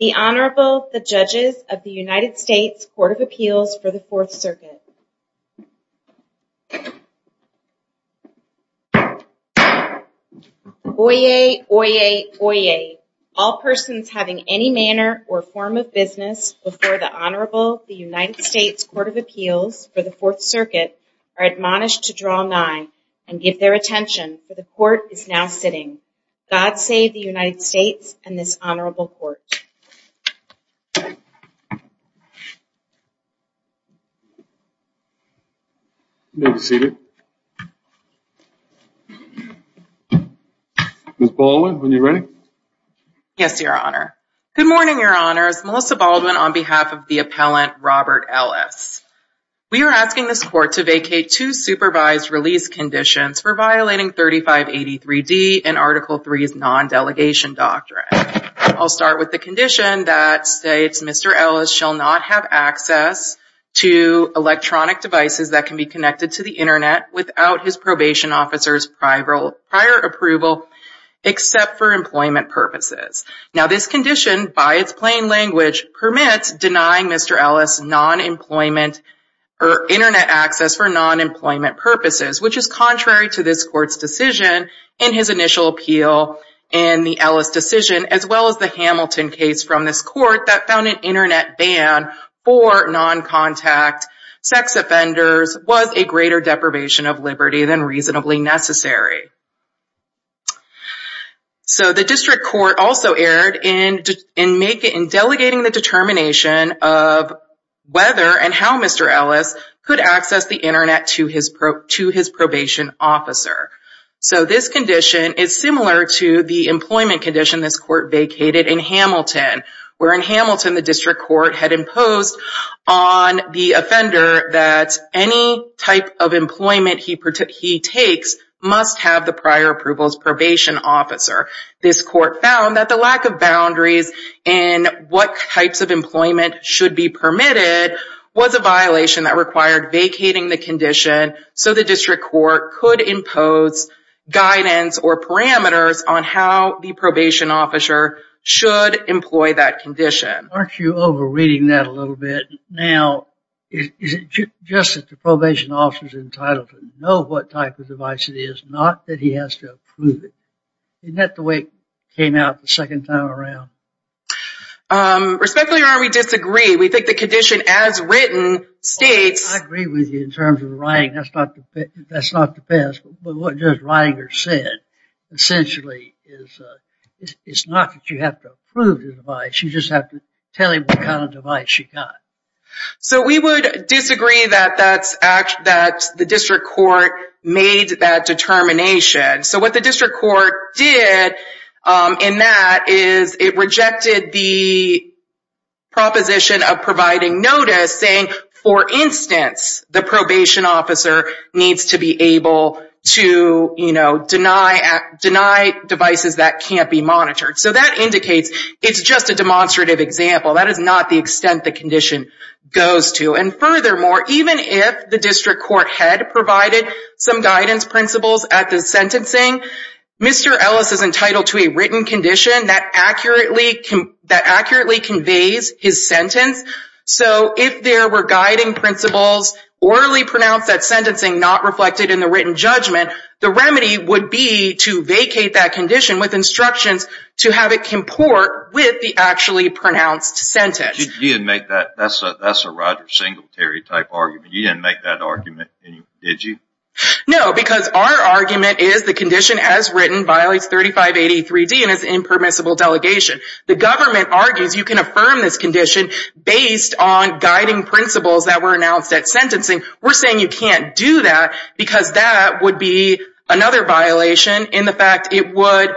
Oyez, Oyez, Oyez, all persons having any manner or form of business before the Honorable United States Court of Appeals for the Fourth Circuit are admonished to draw nigh and give their attention, for the court is now sitting. God save the United States and this honorable court. You may be seated. Ms. Baldwin, when you're ready. Yes, Your Honor. Good morning, Your Honors. Melissa Baldwin on behalf of the appellant I'll start with the condition that states Mr. Ellis shall not have access to electronic devices that can be connected to the internet without his probation officer's prior approval except for employment purposes. Now this condition by its plain language permits denying Mr. Ellis non-employment or internet access for non-employment purposes, which is contrary to this court's decision in his initial appeal and the Ellis decision as well as the Hamilton case from this court that found an internet ban for non-contact sex offenders was a greater deprivation of liberty than reasonably necessary. So the district court also erred in delegating the determination of whether and how Mr. Ellis could access the internet to his probation officer. So this condition is similar to the employment condition this court vacated in Hamilton, where in Hamilton the district court had imposed on the offender that any type of employment he takes must have the prior approvals probation officer. This court found that the lack of boundaries in what types of employment should be permitted was a violation that required vacating the condition so the district court could impose guidance or parameters on how the probation officer should employ that condition. Aren't you over reading that a little bit? Now is it just that the probation officer is entitled to know what type of device it is, not that he has to approve it? Isn't that the way it came out the second time around? Respectfully Your Honor, we disagree. We think the condition as written states... I agree with you in terms of the writing. That's not the best, but what just Ridinger said essentially is it's not that you have to approve the device, you just have to tell him what kind of device you got. So we would disagree that the district court made that determination. So what the district court did in that is it rejected the proposition of providing notice saying, for instance, the probation officer needs to be able to, you know, deny devices that can't be monitored. So that indicates it's just a demonstrative example. That is not the extent the condition goes to. And furthermore, even if the district court had provided some guidance principles at the sentencing, Mr. Ellis is entitled to a written condition that accurately conveys his sentence. So if there were guiding principles orally pronounced at sentencing not reflected in the written judgment, the remedy would be to vacate that condition with instructions to have it comport with the actually pronounced sentence. You didn't make that, that's a Roger Singletary type argument. You didn't make that argument, did you? No, because our argument is the condition as written violates 3583D and is impermissible delegation. The government argues you can affirm this condition based on guiding principles that were announced at sentencing. We're saying you can't do that because that would be another violation in the fact it would,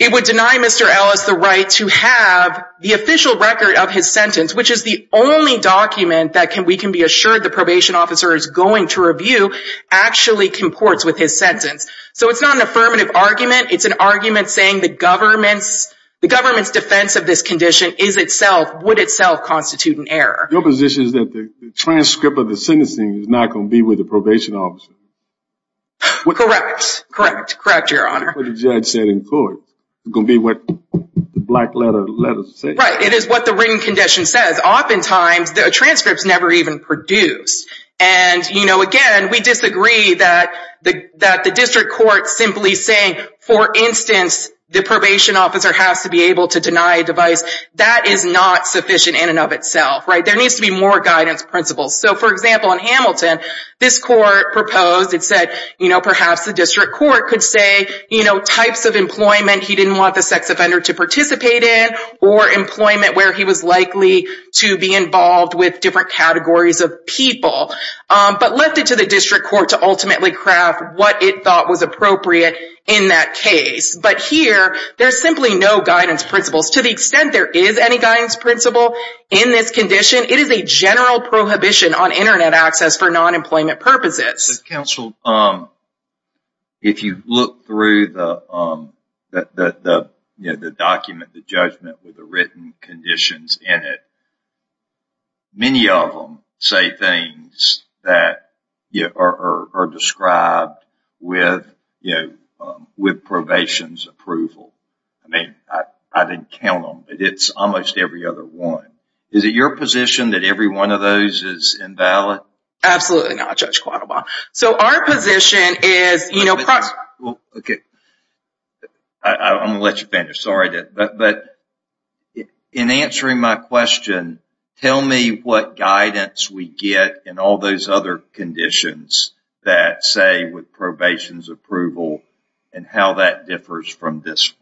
it would deny Mr. Ellis the right to have the official record of his sentence, which is the only document that we can be assured the probation officer is going to review actually comports with his sentence. So it's not an affirmative argument, it's an argument saying the government's, the government's defense of this condition is itself, would itself constitute an error. Your position is that the transcript of the sentencing is not going to be with the probation officer? Correct, correct, correct, Your Honor. But the judge said in court, it's going to be what the black letter of the letter says. Right, it is what the written condition says. But oftentimes, the transcripts never even produce. And, you know, again, we disagree that the, that the district court simply saying, for instance, the probation officer has to be able to deny a device, that is not sufficient in and of itself, right? There needs to be more guidance principles. So, for example, in Hamilton, this court proposed, it said, you know, perhaps the district court could say, you know, types of employment he didn't want the sex offender to participate in, or employment where he was likely to be involved with different categories of people. But left it to the district court to ultimately craft what it thought was appropriate in that case. But here, there's simply no guidance principles. To the extent there is any guidance principle in this condition, it is a general prohibition on internet access for non-employment purposes. Counsel, if you look through the, you know, the document, the judgment with the written conditions in it, many of them say things that are described with, you know, with probation's approval. I mean, I didn't count them, but it's almost every other one. Is it your position that every one of those is invalid? Absolutely not, Judge Quattlebaum. So, our position is, you know... Okay. I'm going to let you finish. Sorry. But, in answering my question, tell me what guidance we get in all those other conditions that say with probation's approval and how that differs from this one.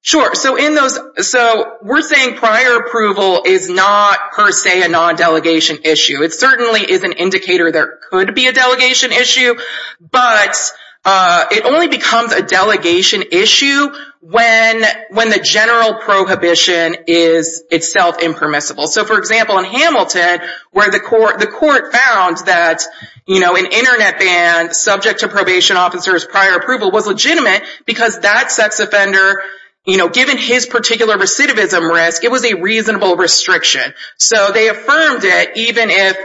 Sure. So, in those, so we're saying prior approval is not per se a non-delegation issue. It certainly is an indicator there could be a delegation issue, but it only becomes a delegation issue when the general prohibition is itself impermissible. So, for example, in Hamilton, where the court found that, you know, an internet ban subject to probation officer's prior approval was legitimate because that sex offender, you know, it was a reasonable restriction. So, they affirmed it even if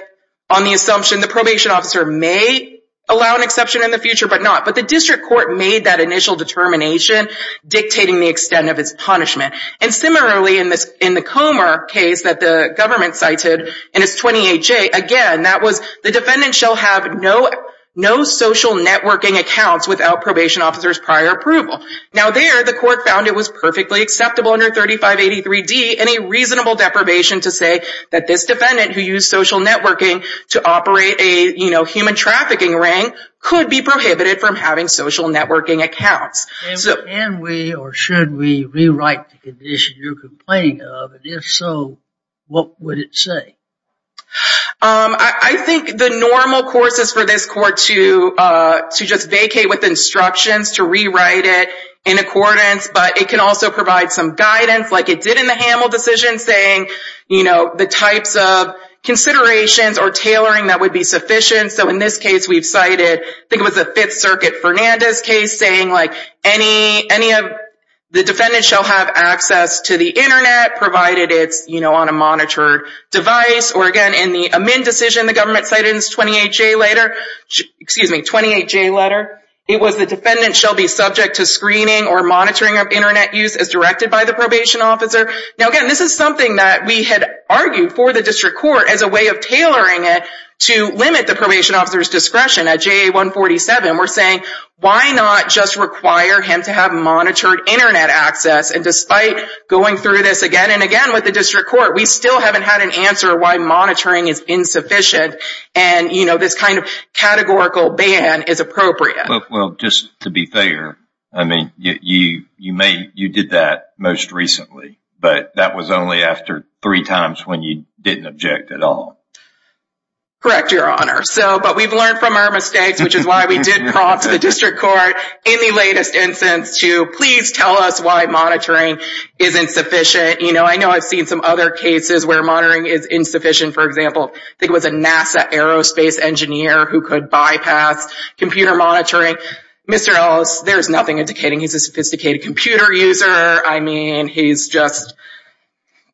on the assumption the probation officer may allow an exception in the future, but not. But the district court made that initial determination dictating the extent of its punishment. And similarly in the Comer case that the government cited in its 28-J, again, that was the defendant shall have no social networking accounts without probation officer's prior approval. Now there, the court found it was perfectly acceptable under 3583-D and a reasonable deprivation to say that this defendant who used social networking to operate a, you know, human trafficking ring could be prohibited from having social networking accounts. Can we or should we rewrite the condition you're complaining of? And if so, what would it say? I think the normal course is for this court to just vacate with instructions to rewrite it in accordance, but it can also provide some guidance like it did in the Hamel decision saying, you know, the types of considerations or tailoring that would be sufficient. So, in this case, we've cited, I think it was the Fifth Circuit Fernandez case saying like any of the defendants shall have access to the internet provided it's, you know, on a monitored device. Or again, in the Amin decision the government cited in its 28-J letter, excuse me, 28-J letter, it was the defendant shall be subject to screening or monitoring of internet use as directed by the probation officer. Now again, this is something that we had argued for the district court as a way of tailoring it to limit the probation officer's discretion. At JA-147, we're saying why not just require him to have monitored internet access? And despite going through this again and again with the district court, we still haven't had an answer why monitoring is insufficient and, you know, this kind of categorical ban is appropriate. Well, just to be fair, I mean, you may, you did that most recently, but that was only after three times when you didn't object at all. Correct, Your Honor. So, but we've learned from our mistakes, which is why we did prompt the district court in the latest instance to please tell us why monitoring is insufficient. You know, I know I've seen some other cases where monitoring is insufficient. For example, I think it was a NASA aerospace engineer who could bypass computer monitoring. Mr. Ellis, there's nothing indicating he's a sophisticated computer user. I mean, he's just,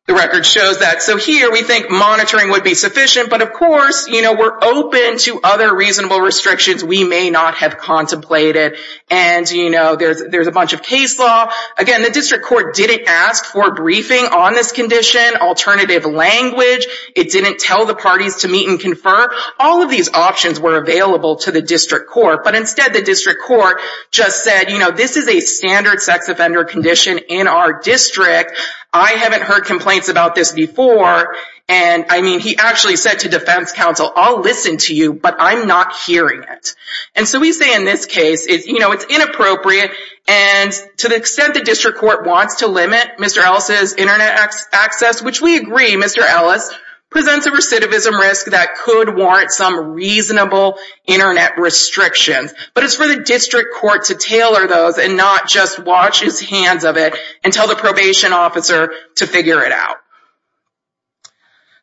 the record shows that. So here we think monitoring would be sufficient, but of course, you know, we're open to other reasonable restrictions we may not have contemplated. And, you know, there's a bunch of case law. Again, the district court didn't ask for briefing on this condition, alternative language. It didn't tell the parties to meet and confer. All of these options were available to the district court, but instead the district court just said, you know, this is a standard sex offender condition in our district. I haven't heard complaints about this before. And I mean, he actually said to defense counsel, I'll listen to you, but I'm not hearing it. And so we say in this case, it's, you know, it's inappropriate. And to the extent the district court wants to limit Mr. Ellis's internet access, which we agree Mr. Ellis presents a recidivism risk that could warrant some reasonable internet restrictions. But it's for the district court to tailor those and not just watch his hands of it and tell the probation officer to figure it out.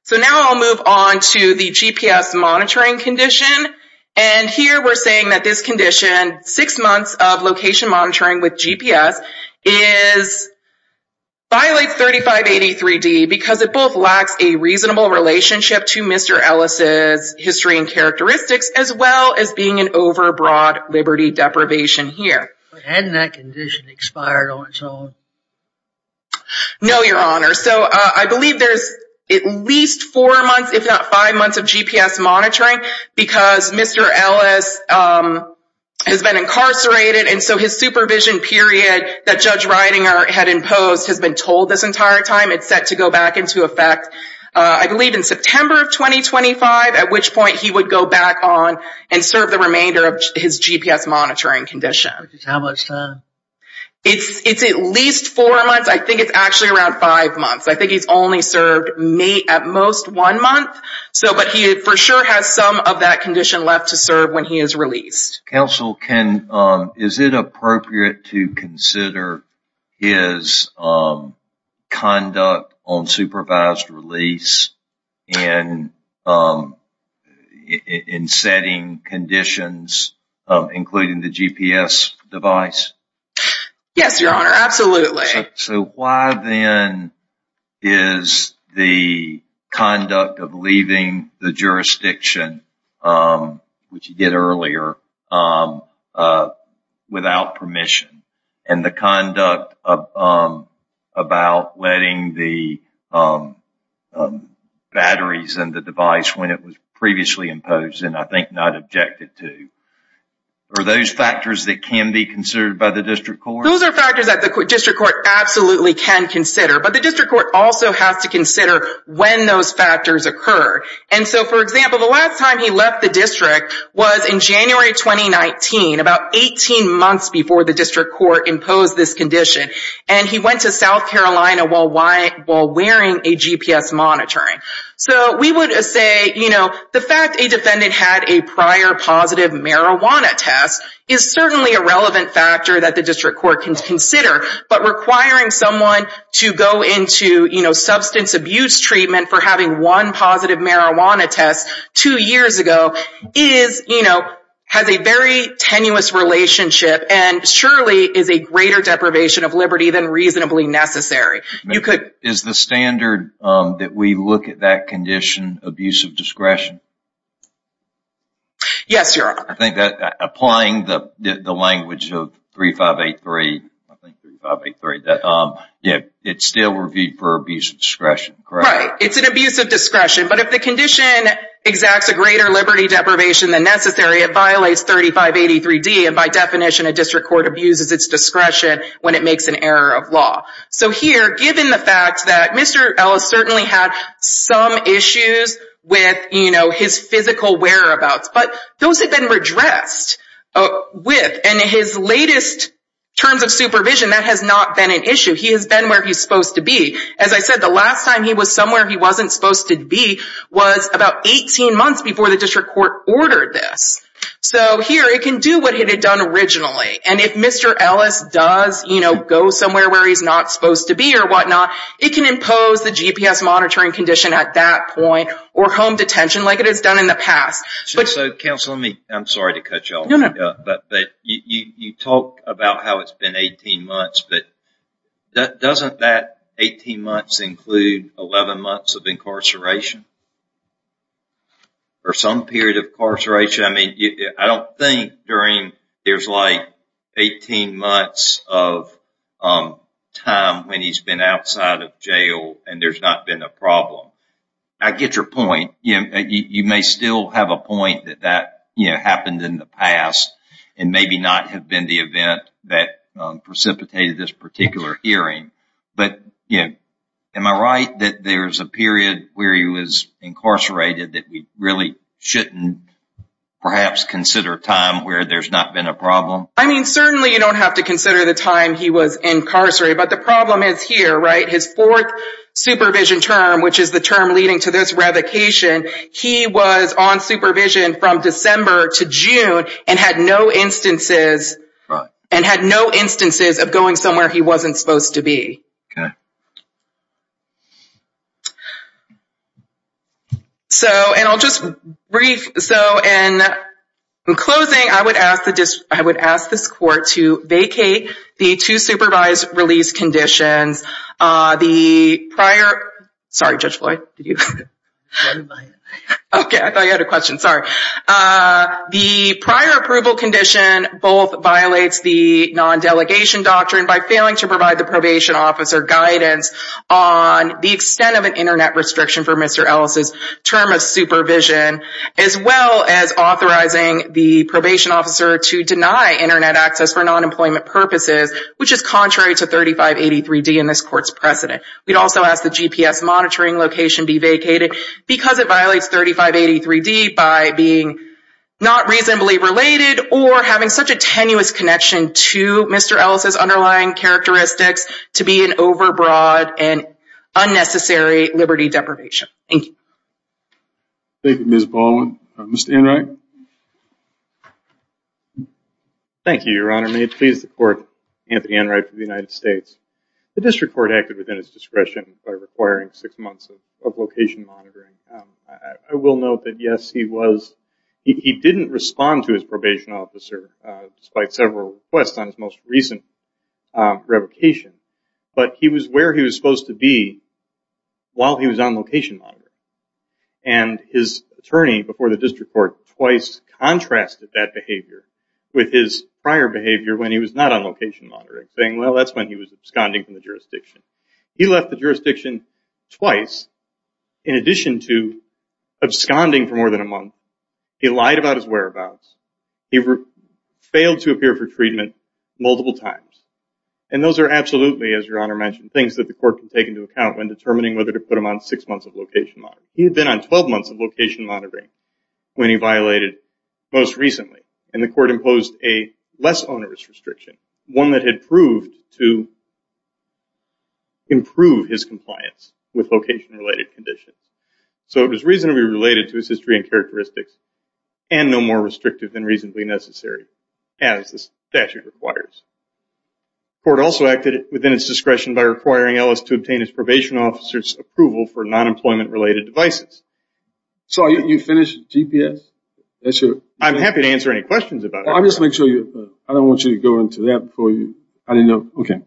So now I'll move on to the GPS monitoring condition. And here we're saying that this condition, six months of location monitoring with GPS, violates 3583D because it both lacks a reasonable relationship to Mr. Ellis's history and characteristics as well as being an over broad liberty deprivation here. But hadn't that condition expired on its own? No, Your Honor. So I believe there's at least four months, if not five months of GPS monitoring because Mr. Ellis has been incarcerated. And so his supervision period that Judge Reidinger had imposed has been told this entire time it's set to go back into effect, I believe in September of 2025, at which point he would go back on and serve the remainder of his GPS monitoring condition. How much time? It's at least four months. I think it's actually around five months. I think he's only served at most one month. But he for sure has some of that condition left to serve when he is released. Counsel, is it appropriate to consider his conduct on supervised release in setting conditions including the GPS device? Yes, Your Honor. Absolutely. So why then is the conduct of leaving the jurisdiction, which you did earlier, without permission and the conduct about letting the batteries and the device when it was previously imposed and I think not objected to? Are those factors that can be considered by the district court? Those are factors that the district court absolutely can consider. But the district court also has to consider when those factors occur. And so, for example, the last time he left the district was in January 2019, about 18 months before the district court imposed this condition. And he went to South Carolina while wearing a GPS monitoring. So we would say the fact a defendant had a prior positive marijuana test is certainly a relevant factor that the district court can consider. But requiring someone to go into substance abuse treatment for having one positive marijuana test two years ago has a very tenuous relationship and surely is a greater deprivation of liberty than reasonably necessary. Is the standard that we look at that condition abusive discretion? Yes, Your Honor. I think that applying the language of 3583, it's still reviewed for abuse of discretion, correct? Right. It's an abuse of discretion. But if the condition exacts a greater liberty deprivation than necessary, it violates 3583D. And by definition, a district court abuses its discretion when it makes an error of law. So here, given the fact that Mr. Ellis certainly had some issues with, you know, his physical whereabouts, but those have been redressed with and his latest terms of supervision, that has not been an issue. He has been where he's supposed to be. As I said, the last time he was somewhere he wasn't supposed to be was about 18 months before the district court ordered this. So here it can do what it had done originally. And if Mr. Ellis does, you know, go somewhere where he's not supposed to be or whatnot, it can impose the GPS monitoring condition at that point or home detention like it has done in the past. So counsel, I'm sorry to cut you off, but you talk about how it's been 18 months, but doesn't that 18 months include 11 months of incarceration? Or some period of incarceration? I don't think there's like 18 months of time when he's been outside of jail and there's not been a problem. I get your point. You may still have a point that that happened in the past and maybe not have been the event that precipitated this particular hearing. But am I right that there's a period where he was incarcerated that we really shouldn't perhaps consider a time where there's not been a problem? I mean, certainly you don't have to consider the time he was incarcerated. But the problem is here, right? His fourth supervision term, which is the term leading to this revocation, he was on supervision from December to June and had no instances and had no instances of going somewhere he wasn't supposed to be. So in closing, I would ask this court to vacate the two supervised release conditions. The prior—sorry, Judge Floyd, did you—okay, I thought you had a question. Sorry. The prior approval condition both violates the non-delegation doctrine by failing to provide the probation officer guidance on the extent of an Internet restriction for Mr. Ellis' term of supervision as well as authorizing the probation officer to deny Internet access for non-employment purposes, which is contrary to 3583D in this court's precedent. We'd also ask the GPS monitoring location be vacated because it violates 3583D by being not reasonably related or having such a tenuous connection to Mr. Ellis' underlying characteristics to be an overbroad and unnecessary liberty deprivation. Thank you. Thank you, Ms. Baldwin. Mr. Enright? Thank you, Your Honor. May it please the court, Anthony Enright of the United States. The district court acted within its discretion by requiring six months of location monitoring. I will note that, yes, he was—he didn't respond to his probation officer despite several requests on his most recent revocation, but he was where he was supposed to be while he was on location monitoring. His attorney before the district court twice contrasted that behavior with his prior behavior when he was not on location monitoring, saying, well, that's when he was absconding from the jurisdiction. He left the jurisdiction twice in addition to absconding for more than a month. He lied about his whereabouts. He failed to appear for treatment multiple times. And those are absolutely, as Your Honor mentioned, things that the court can take into account when determining whether to put him on six months of location monitoring. He had been on 12 months of location monitoring when he violated most recently, and the court imposed a less onerous restriction, one that had proved to improve his compliance with location-related conditions. So it was reasonably related to his history and characteristics, and no more restrictive than reasonably necessary, as the statute requires. The court also acted within its discretion by requiring Ellis to obtain his probation officer's approval for non-employment-related devices. So, you finished GPS? I'm happy to answer any questions about it. I'll just make sure you—I don't want you to go into that before you—I didn't know—okay.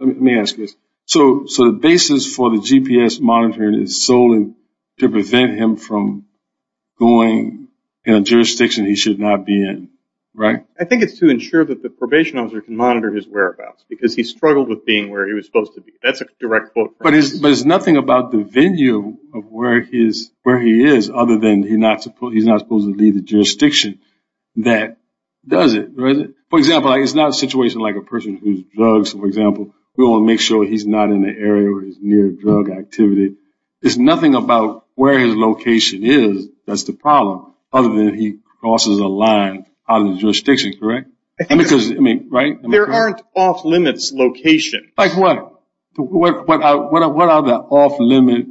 Let me ask this. So, the basis for the GPS monitoring is solely to prevent him from going in a jurisdiction he should not be in, right? I think it's to ensure that the probation officer can monitor his whereabouts, because he struggled with being where he was supposed to be. That's a direct quote from— But it's nothing about the venue of where he is, other than he's not supposed to be the jurisdiction that does it, right? For example, it's not a situation like a person who's drugs, for example. We want to make sure he's not in an area where he's near drug activity. It's nothing about where his location is that's the problem, other than he crosses a line out of the jurisdiction, correct? There aren't off-limits locations. Like what? What are the off-limits,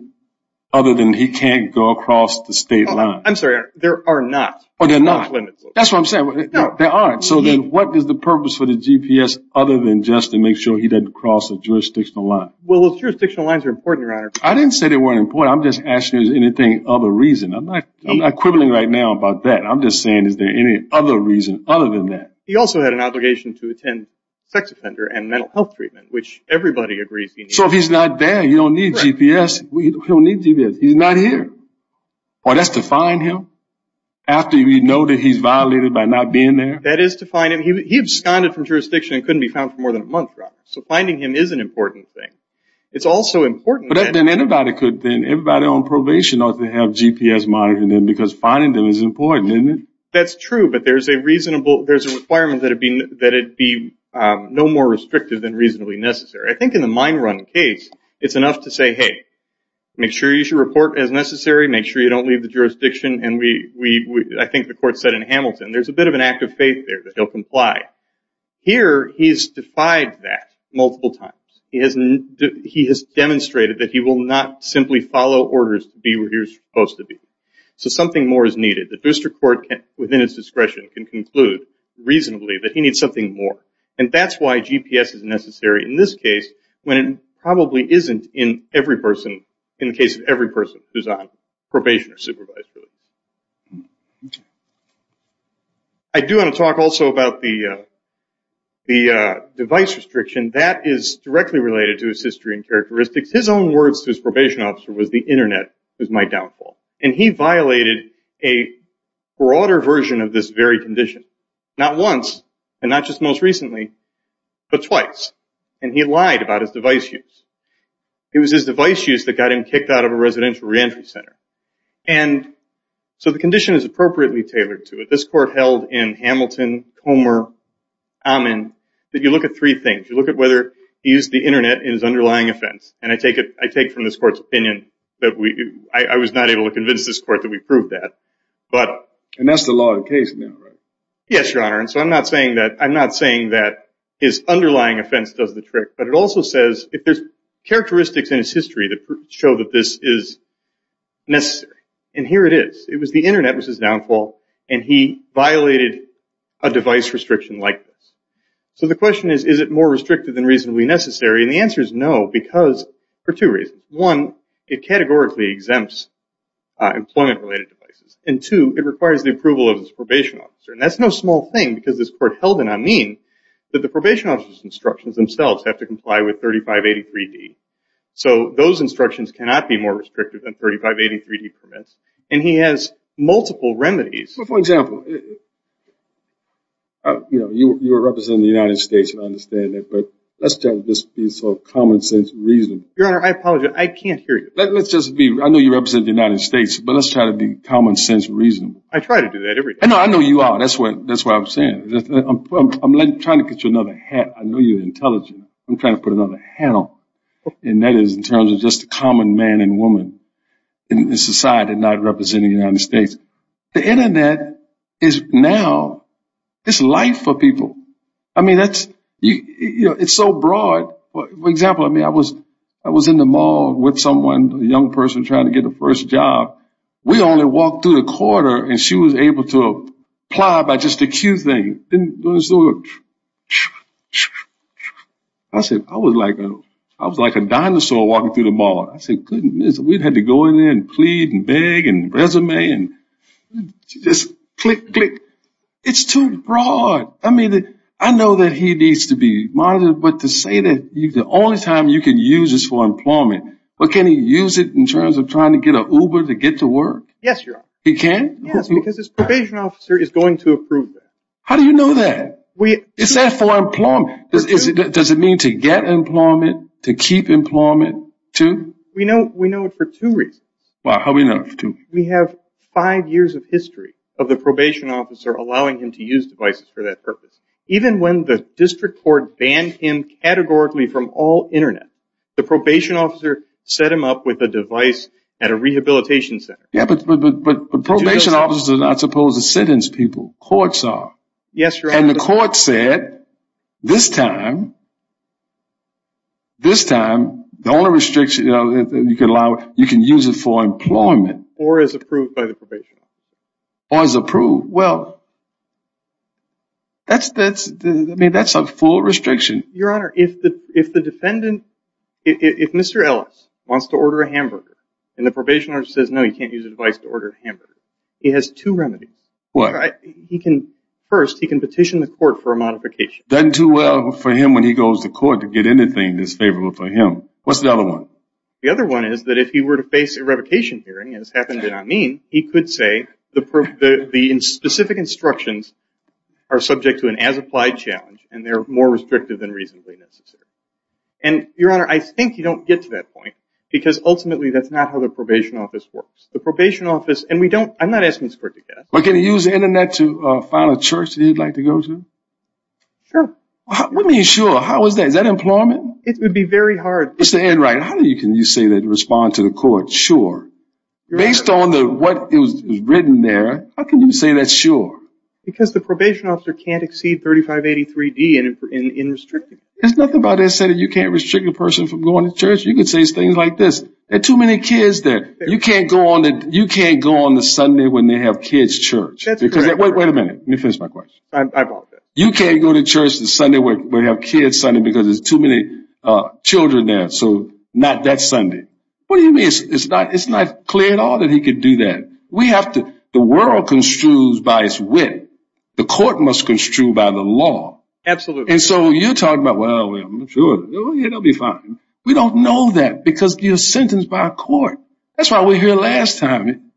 other than he can't go across the state line? I'm sorry, Your Honor. There are not off-limits locations. That's what I'm saying. There aren't. So then, what is the purpose for the GPS other than just to make sure he doesn't cross a jurisdictional line? Well, those jurisdictional lines are important, Your Honor. I didn't say they weren't important. I'm just asking if there's anything of a reason. I'm not quibbling right now about that. I'm just saying is there any other reason other than that? He also had an obligation to attend sex offender and mental health treatment, which everybody agrees he needs. So, if he's not there, you don't need GPS. He don't need GPS. He's not here. Oh, that's to find him? After you know that he's violated by not being there? That is to find him. He absconded from jurisdiction and couldn't be found for more than a month, Your Honor. So, finding him is an important thing. It's also important that... But then everybody on probation ought to have GPS monitoring them because finding them is important, isn't it? That's true, but there's a requirement that it be no more restrictive than reasonably necessary. I think in the mine run case, it's enough to say, hey, make sure you should report as necessary. Make sure you don't leave the jurisdiction. I think the court said in Hamilton, there's a bit of an act of faith there that he'll comply. Here, he's defied that multiple times. He has demonstrated that he will not simply follow orders to be where he was supposed to be. So, something more is needed. The district court, within its discretion, can conclude reasonably that he needs something more. And that's why GPS is necessary in this case when it probably isn't in every person, in the case of every person who's on probation or supervisory. I do want to talk also about the device restriction. That is directly related to his history and characteristics. His own words to his probation officer was, the internet is my downfall. And he violated a broader version of this very condition. Not once, and not just most recently, but twice. And he lied about his device use. It was his device use that got him kicked out of a residential reentry center. And so the condition is appropriately tailored to it. This court held in Hamilton, Comer, Amman, that you look at three things. You look at whether he used the internet in his underlying offense. And I take from this court's opinion that I was not able to convince this court that we proved that. And that's the law of the case now, right? Yes, Your Honor. And so I'm not saying that his underlying offense does the trick. But it also says, if there's characteristics in his history that show that this is necessary. And here it is. It was the internet was his downfall. And he violated a device restriction like this. So the question is, is it more restrictive than reasonably necessary? And the answer is no, because, for two reasons. One, it categorically exempts employment-related devices. And two, it requires the approval of his probation officer. And that's no small thing, because this court held in Amman, that the probation officer's instructions themselves have to comply with 3583D. So those instructions cannot be more restrictive than 3583D permits. And he has multiple remedies. Well, for example, you know, you were representing the United States, and I understand that. But let's just be so common sense and reasonable. Your Honor, I apologize. I can't hear you. Let's just be, I know you represent the United States, but let's try to be common sense and reasonable. I try to do that every day. I know you are. That's why I'm saying it. I'm trying to get you another hat. I know you're intelligent. I'm trying to put another hat on. And that is in terms of just the common man and woman in society not representing the United States. The internet is now, it's life for people. I mean, that's, you know, it's so broad. For example, I mean, I was in the mall with someone, a young person trying to get a first job. We only walked through the corridor, and she was able to apply by just a cue thing. I said, I was like a dinosaur walking through the mall. I said, goodness. We had to go in there and plead and beg and resume and just click, click. It's too broad. I mean, I know that he needs to be monitored, but to say that the only time you can use is for employment, but can he use it in terms of trying to get an Uber to get to work? Yes, you're right. He can? Yes, because his probation officer is going to approve that. How do you know that? It's there for employment. Does it mean to get employment, to keep employment, too? We know it for two reasons. Why? How do we know it for two? We have five years of history of the probation officer allowing him to use devices for that purpose. Even when the district court banned him categorically from all Internet, the probation officer set him up with a device at a rehabilitation center. Yeah, but probation officers are not supposed to sentence people. Courts are. Yes, you're right. And the court said, this time, this time, the only restriction you can allow, you can use it for employment. Or as approved by the probation officer. Or as approved. Well, that's a full restriction. Your Honor, if the defendant, if Mr. Ellis wants to order a hamburger, and the probation officer says, no, you can't use a device to order a hamburger, he has two remedies. What? First, he can petition the court for a modification. Doesn't do well for him when he goes to court to get anything that's favorable for him. What's the other one? The other one is that if he were to face a revocation hearing, as happened in Amin, he could say the specific instructions are subject to an as-applied challenge and they're more restrictive than reasonably necessary. And, Your Honor, I think you don't get to that point, because ultimately that's not how the probation office works. The probation office, and we don't, I'm not asking this court to get it. But can he use the Internet to find a church that he'd like to go to? Sure. What do you mean sure? How is that? Is that employment? It would be very hard. Mr. Enright, how can you say that in response to the court? Sure. Based on what was written there, how can you say that's sure? Because the probation officer can't exceed 3583D in restricting. There's nothing about that saying you can't restrict a person from going to church. You can say things like this. There are too many kids there. You can't go on the Sunday when they have kids church. Wait a minute. Let me finish my question. I apologize. You can't go to church the Sunday when they have kids Sunday because there's too many children there. So not that Sunday. What do you mean? It's not clear at all that he could do that. The world construes by its wit. The court must construe by the law. Absolutely. And so you're talking about, well, sure, it'll be fine. We don't know that because you're sentenced by a court. That's why we're here last time.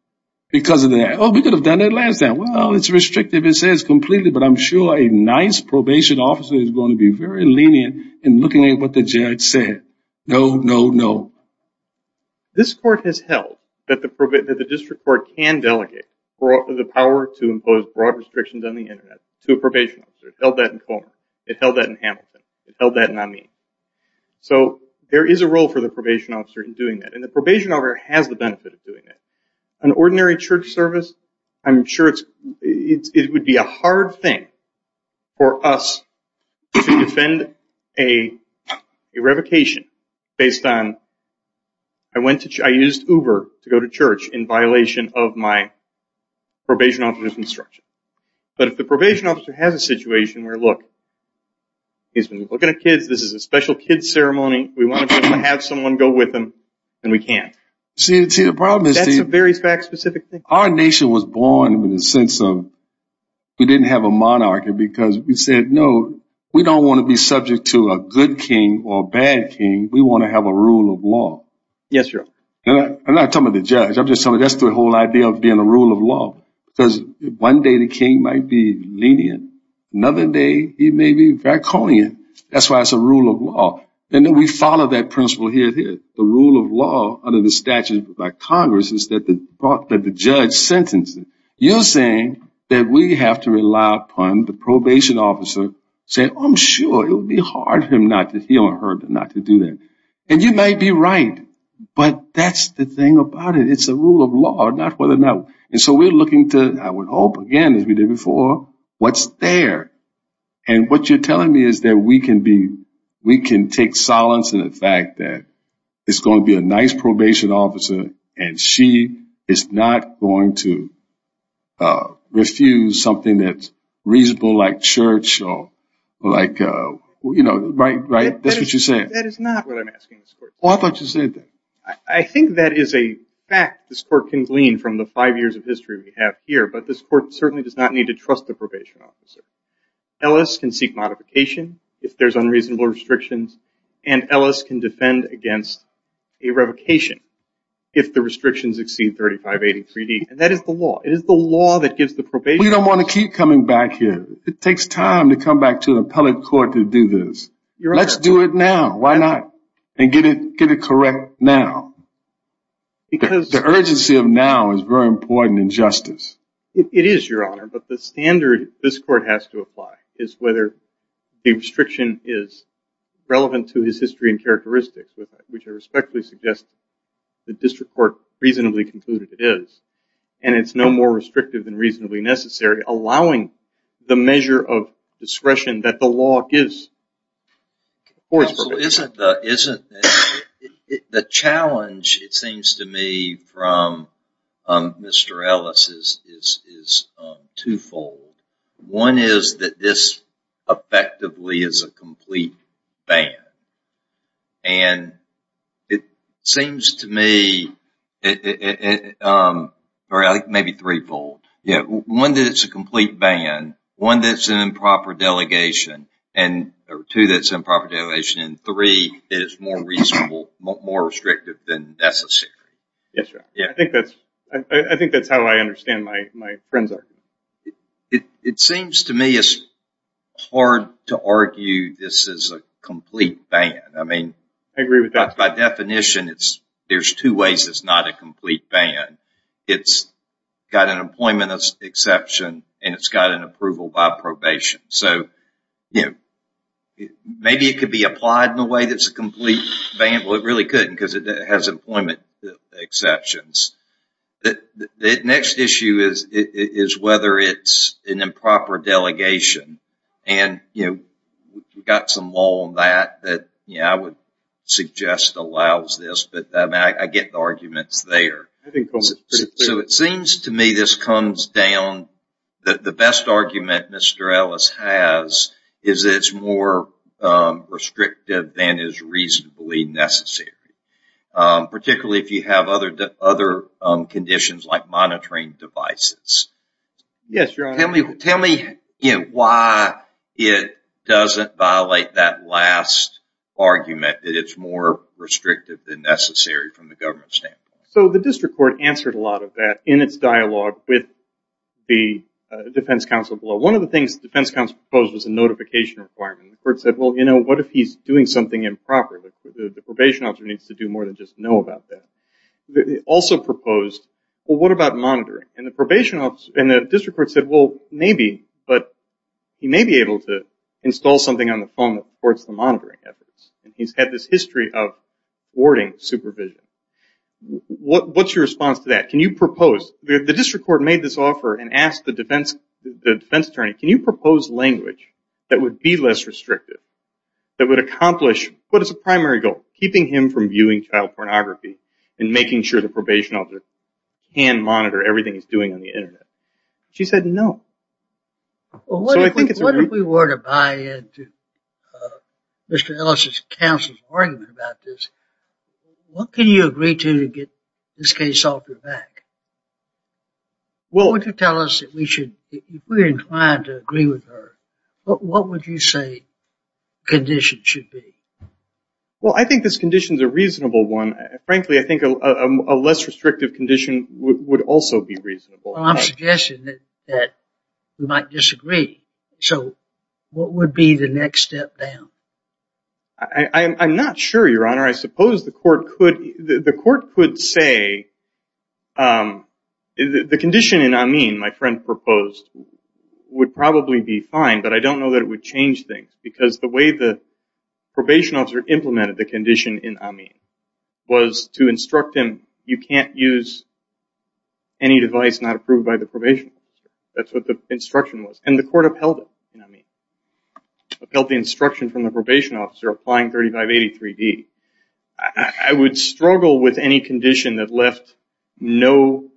Because of that. Oh, we could have done that last time. Well, it's restrictive. It says completely. But I'm sure a nice probation officer is going to be very lenient in looking at what the judge said. No, no, no. This court has held that the district court can delegate the power to impose broad restrictions on the Internet to a probation officer. It held that in Coleman. It held that in Hamilton. It held that in Amin. So there is a role for the probation officer in doing that. And the probation officer has the benefit of doing that. An ordinary church service, I'm sure it would be a hard thing for us to defend a revocation based on, I used Uber to go to church in violation of my probation officer's instruction. But if the probation officer has a situation where, look, he's been looking at kids. This is a special kid's ceremony. We want to have someone go with him. And we can't. See, the problem is. That's a very fact-specific thing. Our nation was born with a sense of, we didn't have a monarchy because we said, no, we don't want to be subject to a good king or a bad king. We want to have a rule of law. Yes, Your Honor. I'm not talking about the judge. I'm just talking about the whole idea of being a rule of law. Because one day the king might be lenient. Another day he may be draconian. That's why it's a rule of law. And then we follow that principle here and here. The rule of law under the statute by Congress is that the judge sentences. You're saying that we have to rely upon the probation officer saying, I'm sure it would be hard for him or her not to do that. And you might be right. But that's the thing about it. It's a rule of law, not whether or not. And so we're looking to, I would hope, again, as we did before, what's there. And what you're telling me is that we can take silence in the fact that it's going to be a nice probation officer and she is not going to refuse something that's reasonable like church or like, you know, right? That's what you're saying. That is not what I'm asking. Oh, I thought you said that. I think that is a fact this court can glean from the five years of history we have here. But this court certainly does not need to trust the probation officer. Ellis can seek modification if there's unreasonable restrictions. And Ellis can defend against a revocation if the restrictions exceed 3583D. And that is the law. It is the law that gives the probation officer. We don't want to keep coming back here. It takes time to come back to the appellate court to do this. Let's do it now. Why not? And get it correct now. The urgency of now is very important in justice. It is, Your Honor. But the standard this court has to apply is whether a restriction is relevant to his history and characteristics, which I respectfully suggest the district court reasonably concluded it is. And it's no more restrictive than reasonably necessary, allowing the measure of discretion that the law gives. The challenge, it seems to me, from Mr. Ellis is twofold. One is that this effectively is a complete ban. And it seems to me, or I think maybe threefold. One is that it's a complete ban. One is that it's an improper delegation. And two, that it's an improper delegation. And three, that it's more reasonable, more restrictive than necessary. Yes, Your Honor. I think that's how I understand my friend's argument. It seems to me it's hard to argue this is a complete ban. I mean, by definition, there's two ways it's not a complete ban. It's got an employment exception. And it's got an approval by probation. So, you know, maybe it could be applied in a way that's a complete ban. Well, it really couldn't because it has employment exceptions. The next issue is whether it's an improper delegation. And, you know, we've got some law on that that I would suggest allows this. But I get the arguments there. So it seems to me this comes down, the best argument Mr. Ellis has is that it's more restrictive than is reasonably necessary. Particularly if you have other conditions like monitoring devices. Yes, Your Honor. Tell me why it doesn't violate that last argument that it's more restrictive than necessary from the government standpoint. So the district court answered a lot of that in its dialogue with the defense counsel below. One of the things the defense counsel proposed was a notification requirement. The court said, well, you know, what if he's doing something improper? The probation officer needs to do more than just know about that. They also proposed, well, what about monitoring? And the district court said, well, maybe. But he may be able to install something on the phone that supports the monitoring efforts. He's had this history of warding supervision. What's your response to that? Can you propose? The district court made this offer and asked the defense attorney, can you propose language that would be less restrictive? That would accomplish what is a primary goal? Keeping him from viewing child pornography and making sure the probation officer can monitor everything he's doing on the internet. She said no. Well, what if we were to buy into Mr. Ellis' counsel's argument about this? What can you agree to to get this case off your back? What would you tell us that we should, if we're inclined to agree with her, what would you say the condition should be? Well, I think this condition's a reasonable one. Frankly, I think a less restrictive condition would also be reasonable. Well, I'm suggesting that we might disagree. So what would be the next step down? I'm not sure, Your Honor. I suppose the court could say the condition in Amin, my friend proposed, would probably be fine. But I don't know that it would change things. Because the way the probation officer implemented the condition in Amin was to instruct him, you can't use any device not approved by the probation officer. That's what the instruction was. And the court upheld it in Amin. Upheld the instruction from the probation officer applying 3583D. I would struggle with any condition that left no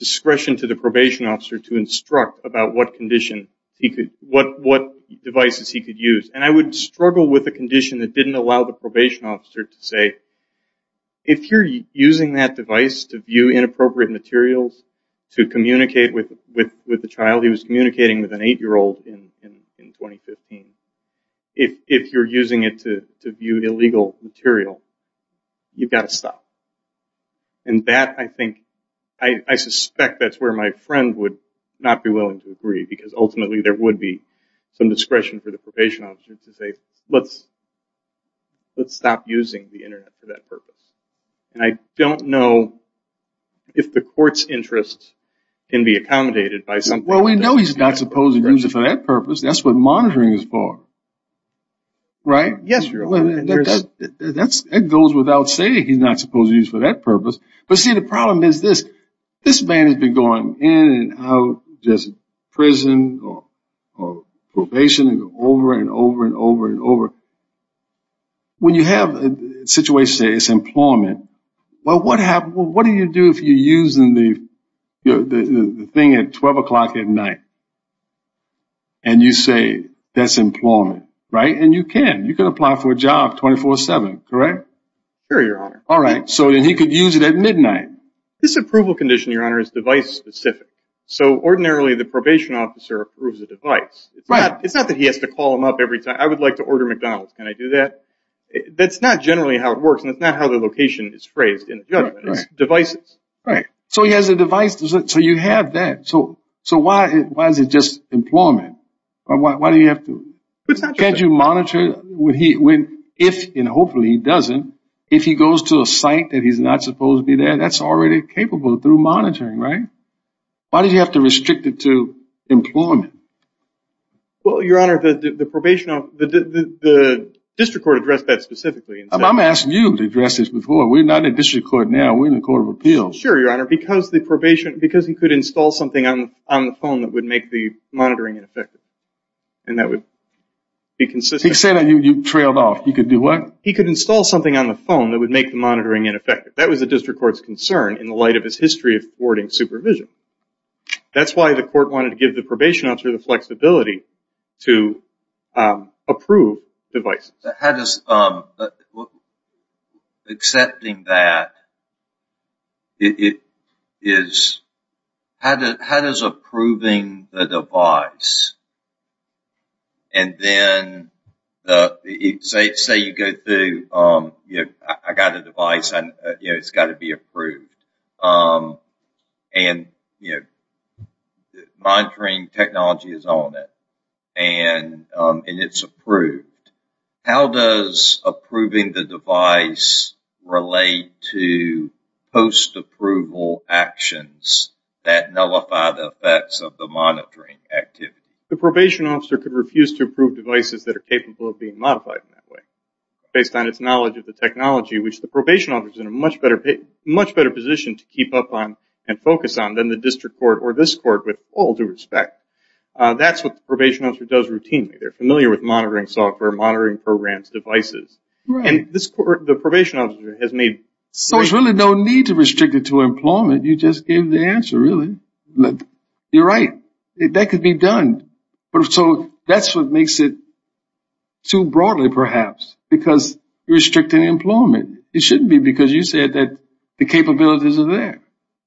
discretion to the probation officer to instruct about what devices he could use. And I would struggle with a condition that didn't allow the probation officer to say, if you're using that device to view inappropriate materials, to communicate with the child, he was communicating with an eight-year-old in 2015, if you're using it to view illegal material, you've got to stop. And that, I think, I suspect that's where my friend would not be willing to agree. Because ultimately there would be some discretion for the probation officer to say, let's stop using the internet for that purpose. And I don't know if the court's interest can be accommodated by something like that. Well, we know he's not supposed to use it for that purpose. That's what monitoring is for. Right? Yes, Your Honor. That goes without saying he's not supposed to use it for that purpose. But see, the problem is this. This man has been going in and out, just prison or probation, over and over and over and over. When you have a situation, say it's employment, well, what do you do if you're using the thing at 12 o'clock at night? And you say that's employment, right? And you can. You can apply for a job 24-7, correct? Sure, Your Honor. All right. So then he could use it at midnight. This approval condition, Your Honor, is device specific. So ordinarily the probation officer approves a device. Right. It's not that he has to call them up every time. I would like to order McDonald's. Can I do that? That's not generally how it works. And that's not how the location is phrased in the judgment. It's devices. Right. So he has a device. So you have that. So why is it just employment? Why do you have to? It's not just that. Can't you monitor if, and hopefully he doesn't, if he goes to a site that he's not supposed to be there, that's already capable through monitoring, right? Why do you have to restrict it to employment? Well, Your Honor, the probation officer, the district court addressed that specifically. I'm asking you to address this before. We're not in district court now. We're in the Court of Appeals. Sure, Your Honor. Because the probation, because he could install something on the phone that would make the monitoring ineffective. And that would be consistent. He could say that you trailed off. He could do what? He could install something on the phone that would make the monitoring ineffective. That was the district court's concern in the light of his history of thwarting supervision. That's why the court wanted to give the probation officer the flexibility to approve devices. How does, accepting that, it is, how does approving the device and then say you go through, I got a device, it's got to be approved. And, you know, monitoring technology is on it. And it's approved. How does approving the device relate to post-approval actions that nullify the effects of the monitoring activity? The probation officer could refuse to approve devices that are capable of being modified in that way. Based on its knowledge of the technology, which the probation officer is in a much better position to keep up on and focus on than the district court or this court with all due respect. That's what the probation officer does routinely. They're familiar with monitoring software, monitoring programs, devices. And this court, the probation officer has made So there's really no need to restrict it to employment. You just gave the answer, really. You're right. That could be done. So that's what makes it too broadly, perhaps. Because you're restricting employment. It shouldn't be because you said that the capabilities are there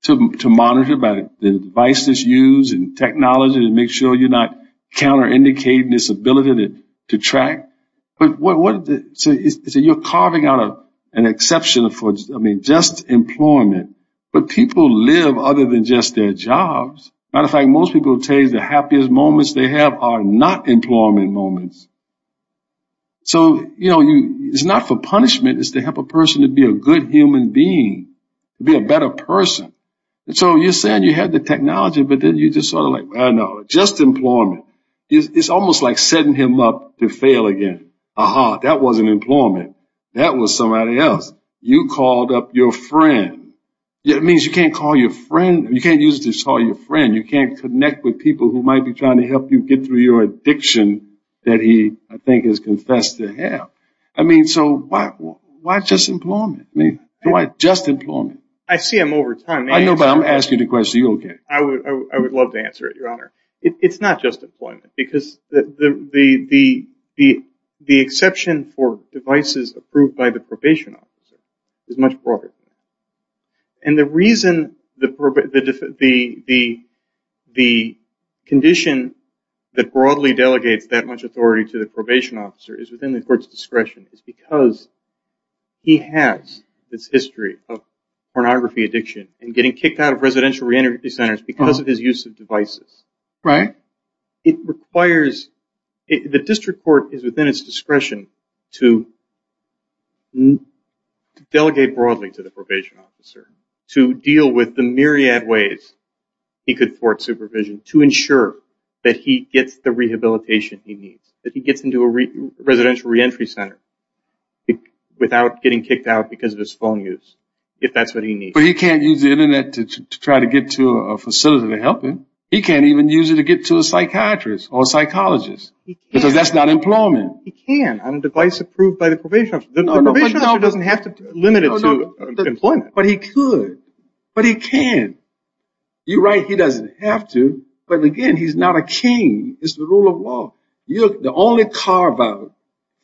to monitor by the device that's used and technology to make sure you're not counter-indicating this ability to track. So you're carving out an exception for just employment. But people live other than just their jobs. As a matter of fact, most people say the happiest moments they have are not employment moments. So, you know, it's not for punishment. It's to help a person to be a good human being, to be a better person. So you're saying you have the technology, but then you're just sort of like, well, no, just employment. It's almost like setting him up to fail again. Aha, that wasn't employment. That was somebody else. You called up your friend. It means you can't call your friend. You can't use it to call your friend. You can't connect with people who might be trying to help you get through your addiction that he I think has confessed to have. I mean, so why just employment? I see him over time. I know, but I'm asking the question to you again. I would love to answer it, Your Honor. It's not just employment. Because the exception for devices approved by the probation officer is much broader than that. And the reason the condition that broadly delegates that much authority to the probation officer is within the court's discretion. It's because he has this history of pornography addiction and getting kicked out of residential reentry centers because of his use of devices. Right. It requires the district court is within its discretion to delegate broadly to the probation officer, to deal with the myriad ways he could court supervision to ensure that he gets the rehabilitation he needs, that he gets into a residential reentry center without getting kicked out because of his phone use, if that's what he needs. But he can't use the internet to try to get to a facility to help him. He can't even use it to get to a psychiatrist or psychologist because that's not employment. He can on a device approved by the probation officer. The probation officer doesn't have to limit it to employment. But he could. But he can't. You're right. He doesn't have to. But again, he's not a king. It's the rule of law. The only carve-out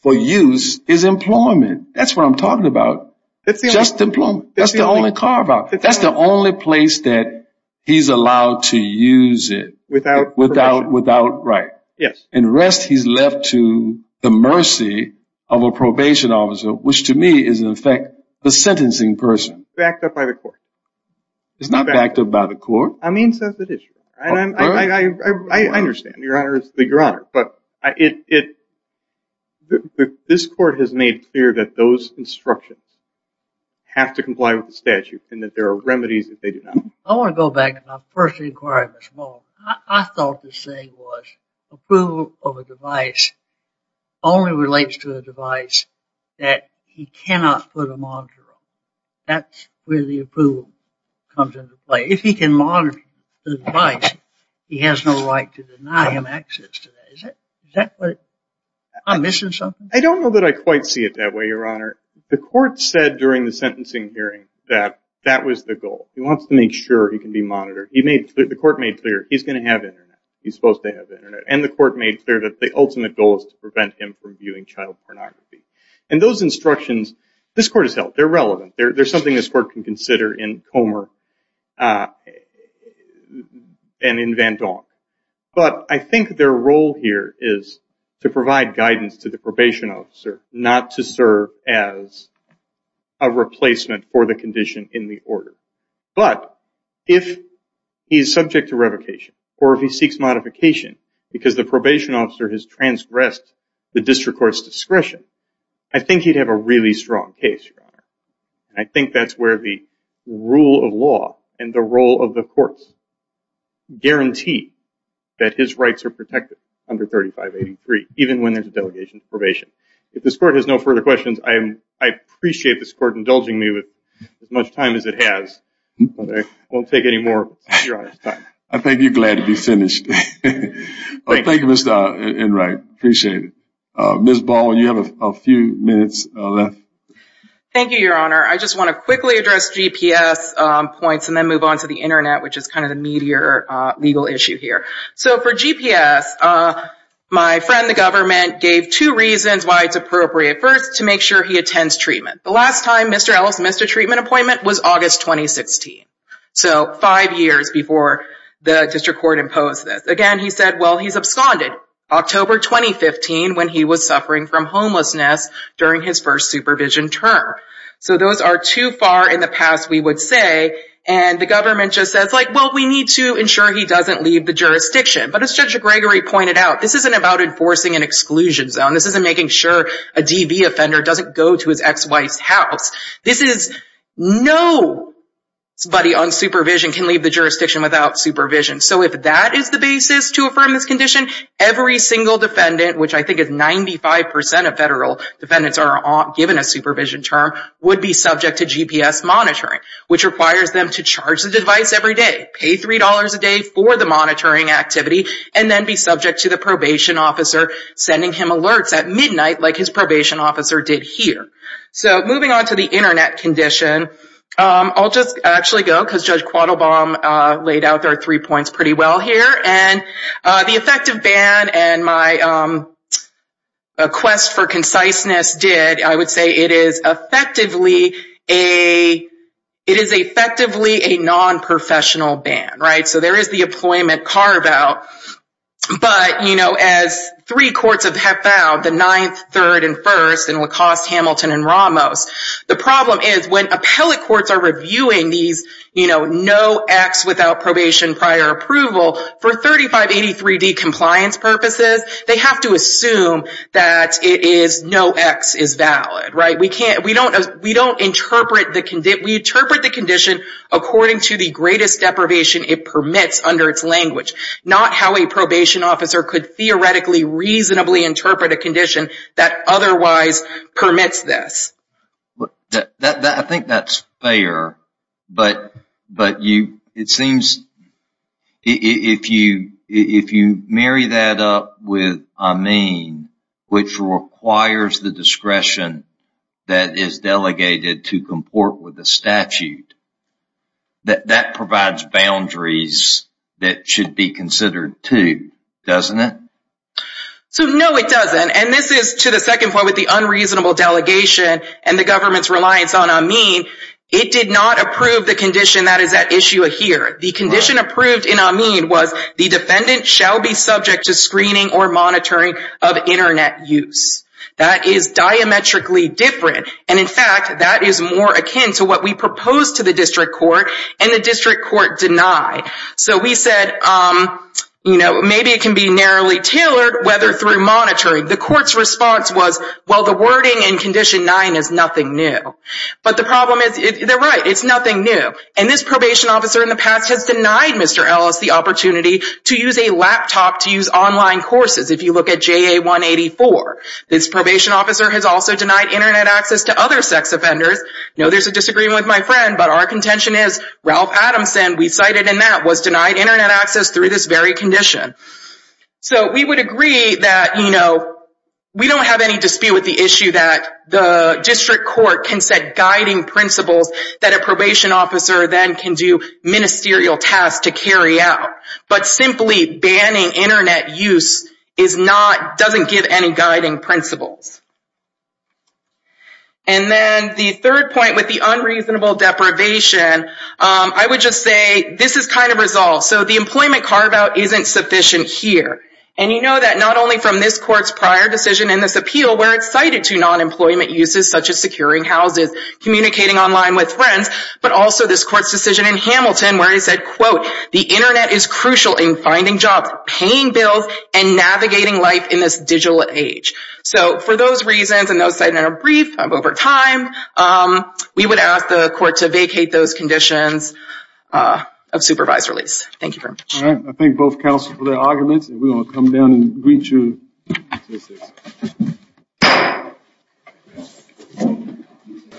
for use is employment. That's what I'm talking about. Just employment. That's the only carve-out. He's allowed to use it without right. Yes. And the rest he's left to the mercy of a probation officer, which to me is, in effect, the sentencing person. Backed up by the court. It's not backed up by the court. I mean, so it is. I understand, Your Honor. this court has made clear that those instructions have to comply with the statute and that there are remedies if they do not. I want to go back to my first inquiry. I thought this thing was approval of a device only relates to a device that he cannot put a monitor on. That's where the approval comes into play. If he can monitor the device, he has no right to deny him access to that. Is that what... I'm missing something? I don't know that I quite see it that way, Your Honor. The court said during the sentencing hearing that that was the goal. He wants to make sure he can be monitored. The court made clear he's going to have internet. He's supposed to have internet. And the court made clear that the ultimate goal is to prevent him from viewing child pornography. And those instructions this court has held. They're relevant. They're something this court can consider in Comer and in Van Donk. But I think their role here is to provide guidance to the probation officer not to serve as a replacement for the condition in the order. But if he's subject to revocation or if he seeks modification because the probation officer has transgressed the district court's discretion I think he'd have a really strong case, Your Honor. And I think that's where the rule of law and the role of the courts guarantee that his rights are protected under 3583 even when there's a delegation to probation. If this court has no further questions I appreciate this court indulging me with as much time as it has. But I won't take any more of Your Honor's time. I think you're glad to be finished. Thank you, Mr. Enright. Appreciate it. Ms. Ball, you have a few minutes left. Thank you, Your Honor. I just want to quickly address GPS points and then move on to the internet which is kind of the meteor legal issue here. So for GPS my friend the government gave two reasons why it's appropriate. First, to make sure he attends treatment. The last time Mr. Ellis missed a treatment appointment was August 2016. So five years before the district court imposed this. Again, he said, well, he's absconded. October 2015 when he was suffering from homelessness during his first supervision term. So those are too far in the past we would say and the government just says, well, we need to ensure he doesn't leave the jurisdiction. But as Judge Gregory pointed out, this isn't about enforcing an exclusion zone. This isn't making sure a DV offender doesn't go to his ex-wife's house. This is nobody on supervision can leave the jurisdiction without supervision. So if that is the basis to affirm this condition, every single defendant, which I think is 95% of federal defendants are given a supervision term, would be subject to GPS monitoring which requires them to charge the device every day, pay $3 a day for the monitoring activity, and then be subject to the probation officer sending him alerts at midnight like his probation officer did here. So moving on to the internet condition, I'll just actually go because Judge Quattlebaum laid out our three points pretty well here. The effective ban and my quest for conciseness did I would say it is effectively a non-professional ban. So there is the employment carve out, but as three courts have found, the 9th, 3rd, and 1st and Lacoste, Hamilton, and Ramos, the problem is when appellate courts are reviewing these no X without probation prior approval, for 3583D compliance purposes, they have to assume that it is no X is valid. We don't interpret the condition according to the greatest deprivation it permits under its language. Not how a probation officer could theoretically reasonably interpret a condition that otherwise permits this. I think that's fair, it seems if you marry that up with a mean, which requires the discretion that is delegated to comport with a statute that provides boundaries that should be considered too, doesn't it? So no it doesn't, and this is to the second point with the unreasonable delegation and the government's reliance on a mean, it did not approve the condition that is at issue here. The condition approved in a mean was the defendant shall be subject to screening or monitoring of internet use. That is diametrically different and in fact, that is more akin to what we proposed to the district court and the district court denied. So we said maybe it can be narrowly tailored whether through monitoring. The court's response was, well the wording in condition 9 is nothing new. But the problem is, they're right, it's nothing new. And this probation officer in the past has denied Mr. Ellis the opportunity to use a laptop to use online courses, if you look at JA 184. This probation officer has also denied internet access to other sex offenders. I know there's a disagreement with my friend, but our contention is Ralph Adamson, we cited in that, was denied internet access through this very condition. So we would agree that, you know, we don't have any dispute with the issue that the district court can set guiding principles that a probation officer then can do ministerial tasks to carry out. But simply banning internet use is not, doesn't give any guiding principles. And then the third point with the unreasonable deprivation, I would just say, this is kind of resolved. So the employment carve-out isn't sufficient here. And you know that not only from this court's prior decision in this appeal where it's cited to non-employment uses such as securing houses, communicating online with friends, but also this court's decision in Hamilton where it said quote, the internet is crucial in finding jobs, paying bills, and navigating life in this digital age. So for those reasons and those cited in a brief over time we would ask the court to vacate those conditions of supervised release. Thank you very much.